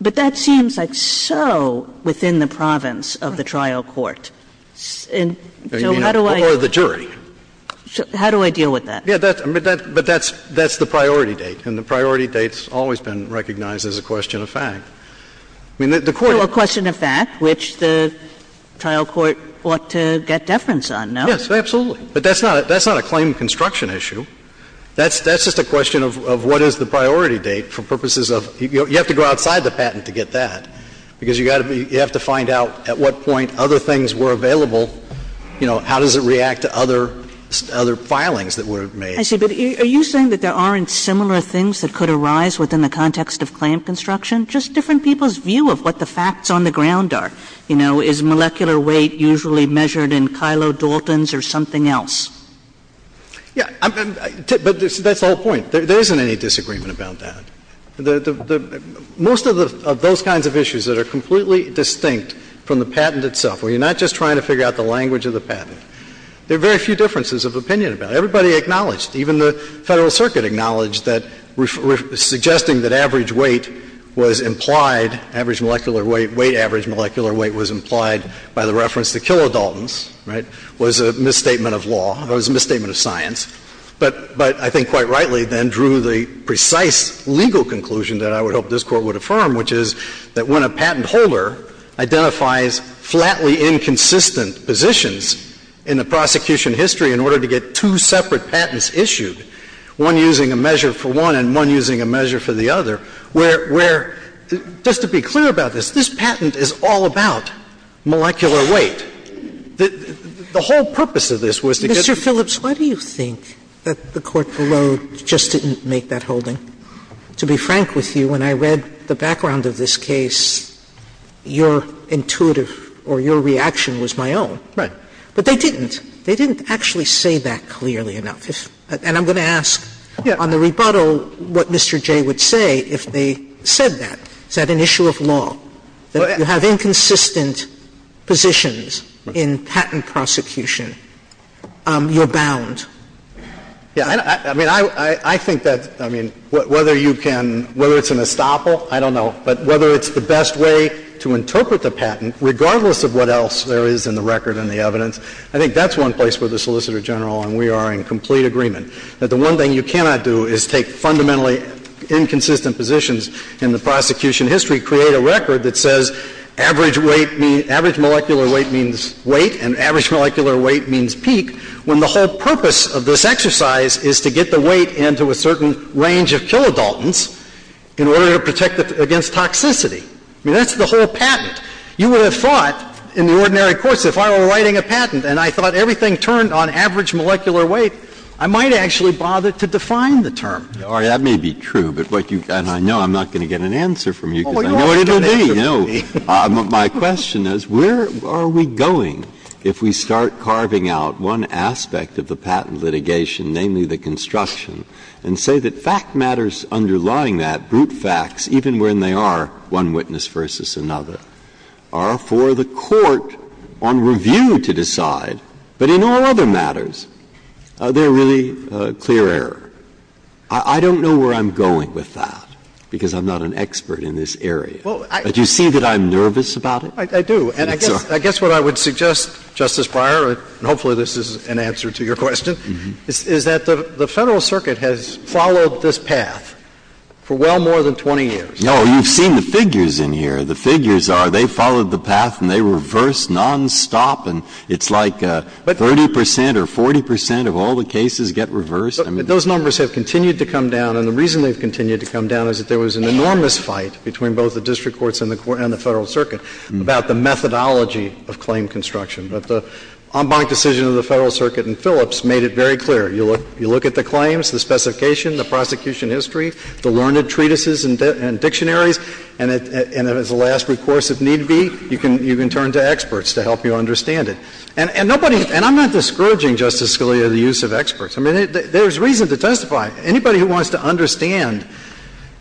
But that seems like so within the province of the trial court. So how do I — Or the jury. How do I deal with that? Yeah, but that's the priority date. And the priority date's always been recognized as a question of fact. I mean, the court — So a question of fact, which the trial court ought to get deference on, no? Yes, absolutely. But that's not a claim construction issue. That's just a question of what is the priority date for purposes of — you have to go outside the patent to get that, because you have to find out at what point other things were available, you know, how does it react to other — other filings that were made. I see. But are you saying that there aren't similar things that could arise within the context of claim construction? Just different people's view of what the facts on the ground are. You know, is molecular weight usually measured in kylodaltons or something else? Yeah. But that's the whole point. There isn't any disagreement about that. Most of those kinds of issues that are completely distinct from the patent itself where you're not just trying to figure out the language of the patent, there are very few differences of opinion about it. Everybody acknowledged, even the Federal Circuit acknowledged, that suggesting that average weight was implied — average molecular weight, weight average molecular weight was implied by the reference to kylodaltons, right, was a misstatement of law, was a misstatement of science, but I think quite rightly then drew the precise legal conclusion that I would hope this Court would affirm, which is that when a patent is issued, there are many inconsistent positions in the prosecution history in order to get two separate patents issued, one using a measure for one and one using a measure for the other, where — where, just to be clear about this, this patent is all about molecular weight. The whole purpose of this was to get — Mr. Phillips, why do you think that the Court below just didn't make that holding? To be frank with you, when I read the background of this case, your intuitive or your reaction was my own. Right. But they didn't. They didn't actually say that clearly enough. And I'm going to ask on the rebuttal what Mr. Jay would say if they said that. Is that an issue of law, that you have inconsistent positions in patent prosecution? You're bound. Yeah. I mean, I think that — I mean, whether you can — whether it's an estoppel, I don't know. But whether it's the best way to interpret the patent, regardless of what else there is in the record and the evidence, I think that's one place where the Solicitor General and we are in complete agreement that the one thing you cannot do is take fundamentally inconsistent positions in the prosecution history, create a record that says average weight — average molecular weight means weight and average molecular weight means And I think that's a terrible way to speak when the whole purpose of this exercise is to get the weight into a certain range of kilodaltons in order to protect against toxicity. I mean, that's the whole patent. You would have thought in the ordinary course if I were writing a patent and I thought everything turned on average molecular weight, I might actually bother to define the term. Now, that may be true, but what you — and I know I'm not going to get an answer from you because I know what it will be. But my question is, where are we going if we start carving out one aspect of the patent litigation, namely the construction, and say that fact matters underlying that, brute facts, even when they are one witness versus another, are for the court on review to decide, but in all other matters, they're really clear error? I don't know where I'm going with that because I'm not an expert in this area. But you see that I'm nervous about it? I do. And I guess what I would suggest, Justice Breyer, and hopefully this is an answer to your question, is that the Federal Circuit has followed this path for well more than 20 years. No. You've seen the figures in here. The figures are they followed the path and they reversed nonstop. And it's like 30 percent or 40 percent of all the cases get reversed. Those numbers have continued to come down. And the reason they've continued to come down is that there was an enormous fight between both the district courts and the Federal Circuit about the methodology of claim construction. But the en banc decision of the Federal Circuit and Phillips made it very clear. You look at the claims, the specification, the prosecution history, the learned treatises and dictionaries, and if it's the last recourse, if need be, you can turn to experts to help you understand it. And nobody, and I'm not discouraging, Justice Scalia, the use of experts. I mean, there's reason to testify. Anybody who wants to understand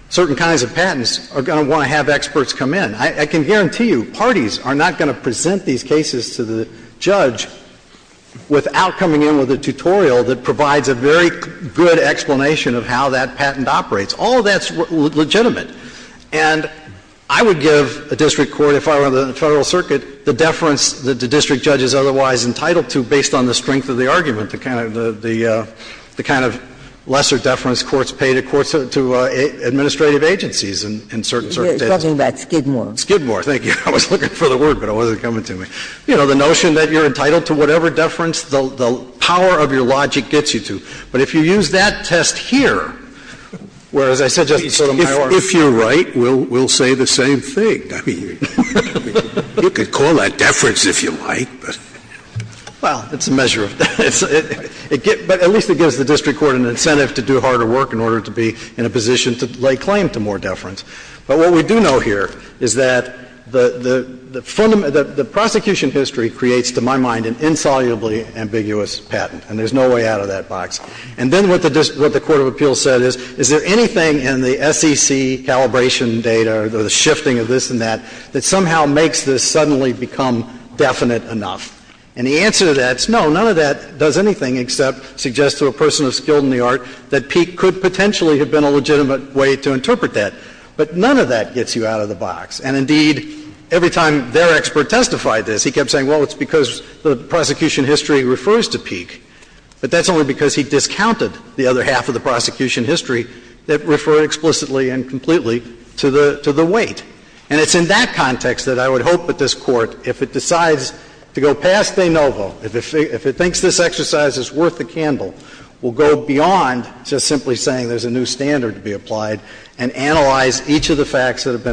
certain kinds of patents are going to want to have experts come in. I can guarantee you parties are not going to present these cases to the judge without coming in with a tutorial that provides a very good explanation of how that patent operates. All of that's legitimate. And I would give a district court, if I were in the Federal Circuit, the deference that the district judge is otherwise entitled to based on the strength of the argument, the kind of lesser deference courts pay to administrative agencies in certain circumstances. Ginsburg. You're talking about Skidmore. Skidmore. Thank you. I was looking for the word, but it wasn't coming to me. You know, the notion that you're entitled to whatever deference, the power of your logic gets you to. But if you use that test here, where, as I said, Justice Sotomayor, if you're right, we'll say the same thing. I mean, you could call that deference if you like, but. Well, it's a measure of deference. But at least it gives the district court an incentive to do harder work in order to be in a position to lay claim to more deference. But what we do know here is that the prosecution history creates, to my mind, an insolubly ambiguous patent, and there's no way out of that box. And then what the court of appeals said is, is there anything in the SEC calibration data or the shifting of this and that that somehow makes this suddenly become definite enough? And the answer to that is, no, none of that does anything except suggest to a person of skill in the art that Peek could potentially have been a legitimate way to interpret that. But none of that gets you out of the box. And, indeed, every time their expert testified this, he kept saying, well, it's because the prosecution history refers to Peek. But that's only because he discounted the other half of the prosecution history that refer explicitly and completely to the weight. And it's in that context that I would hope that this Court, if it decides to go past de novo, if it thinks this exercise is worth the candle, will go beyond just simply saying there's a new standard to be applied and analyze each of the facts that have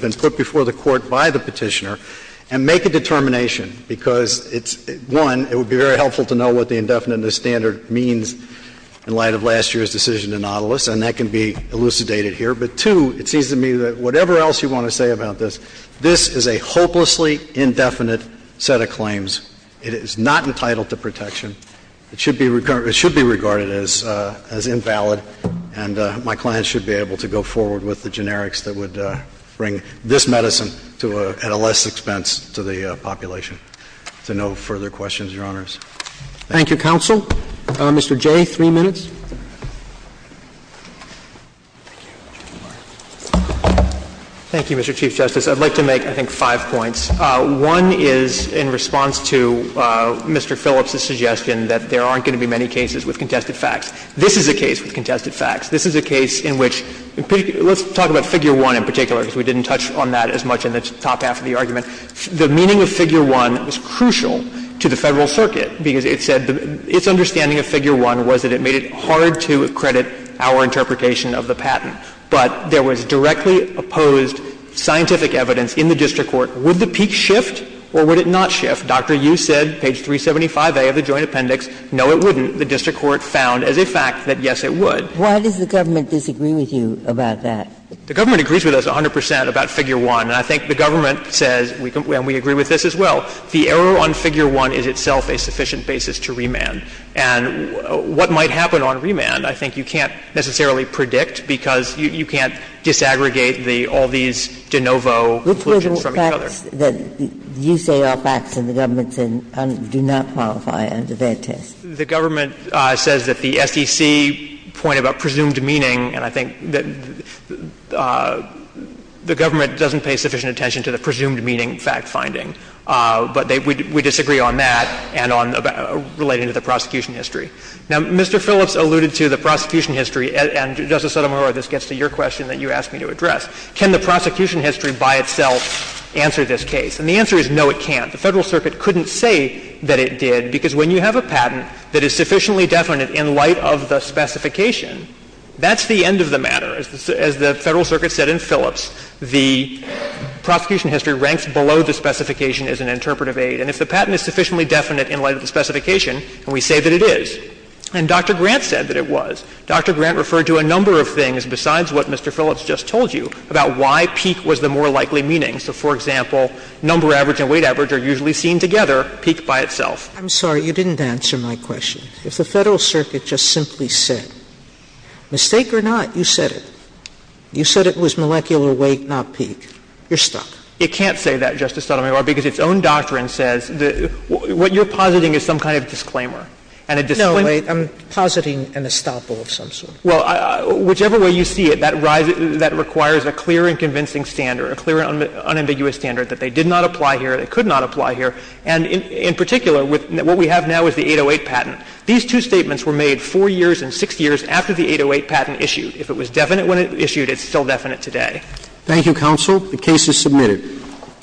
been put before the Court by the Petitioner and make a determination, because it's, one, it would be very helpful to know what the indefinite in the standard means in light of last year's decision to Nautilus, and that can be elucidated here. But, two, it seems to me that whatever else you want to say about this, this is a hopelessly indefinite set of claims. It is not entitled to protection. It should be regarded as invalid, and my clients should be able to go forward with the generics that would bring this medicine at a less expense to the population. Is there no further questions, Your Honors? Thank you. Roberts. Thank you, counsel. Mr. Jay, three minutes. Thank you, Mr. Chief Justice. I'd like to make, I think, five points. One is in response to Mr. Phillips's suggestion that there aren't going to be many cases with contested facts. This is a case with contested facts. This is a case in which — let's talk about Figure 1 in particular, because we didn't touch on that as much in the top half of the argument. The meaning of Figure 1 was crucial to the Federal Circuit, because it said — its understanding of Figure 1 was that it made it hard to credit our interpretation of the patent. But there was directly opposed scientific evidence in the district court. Would the peak shift or would it not shift? Dr. Yu said, page 375A of the Joint Appendix, no, it wouldn't. The district court found as a fact that, yes, it would. Why does the government disagree with you about that? The government agrees with us 100 percent about Figure 1. And I think the government says, and we agree with this as well, the error on Figure 1 is itself a sufficient basis to remand. And what might happen on remand, I think, you can't necessarily predict, because you can't disaggregate the — all these de novo conclusions from each other. Which were the facts that you say are facts and the government said do not qualify under that test? The government says that the SDC point about presumed meaning, and I think that the government doesn't pay sufficient attention to the presumed meaning fact-finding. But we disagree on that and on relating to the prosecution history. Now, Mr. Phillips alluded to the prosecution history, and, Justice Sotomayor, this gets to your question that you asked me to address. Can the prosecution history by itself answer this case? And the answer is no, it can't. The Federal Circuit couldn't say that it did, because when you have a patent that is sufficiently definite in light of the specification, that's the end of the matter. As the Federal Circuit said in Phillips, the prosecution history ranks below the specification as an interpretive aid. And if the patent is sufficiently definite in light of the specification, and we say that it is, and Dr. Grant said that it was, Dr. Grant referred to a number of things besides what Mr. Phillips just told you about why peak was the more likely meaning. So, for example, number average and weight average are usually seen together, peak by itself. I'm sorry, you didn't answer my question. If the Federal Circuit just simply said, mistake or not, you said it. You said it was molecular weight, not peak. You're stuck. It can't say that, Justice Sotomayor, because its own doctrine says that what you're positing is some kind of disclaimer. And a disclaimer. No, I'm positing an estoppel of some sort. Well, whichever way you see it, that requires a clear and convincing standard, a clear and unambiguous standard that they did not apply here, they could not apply here. And in particular, what we have now is the 808 patent. These two statements were made 4 years and 6 years after the 808 patent issued. If it was definite when it was issued, it's still definite today. Thank you, counsel. The case is submitted. Thank you.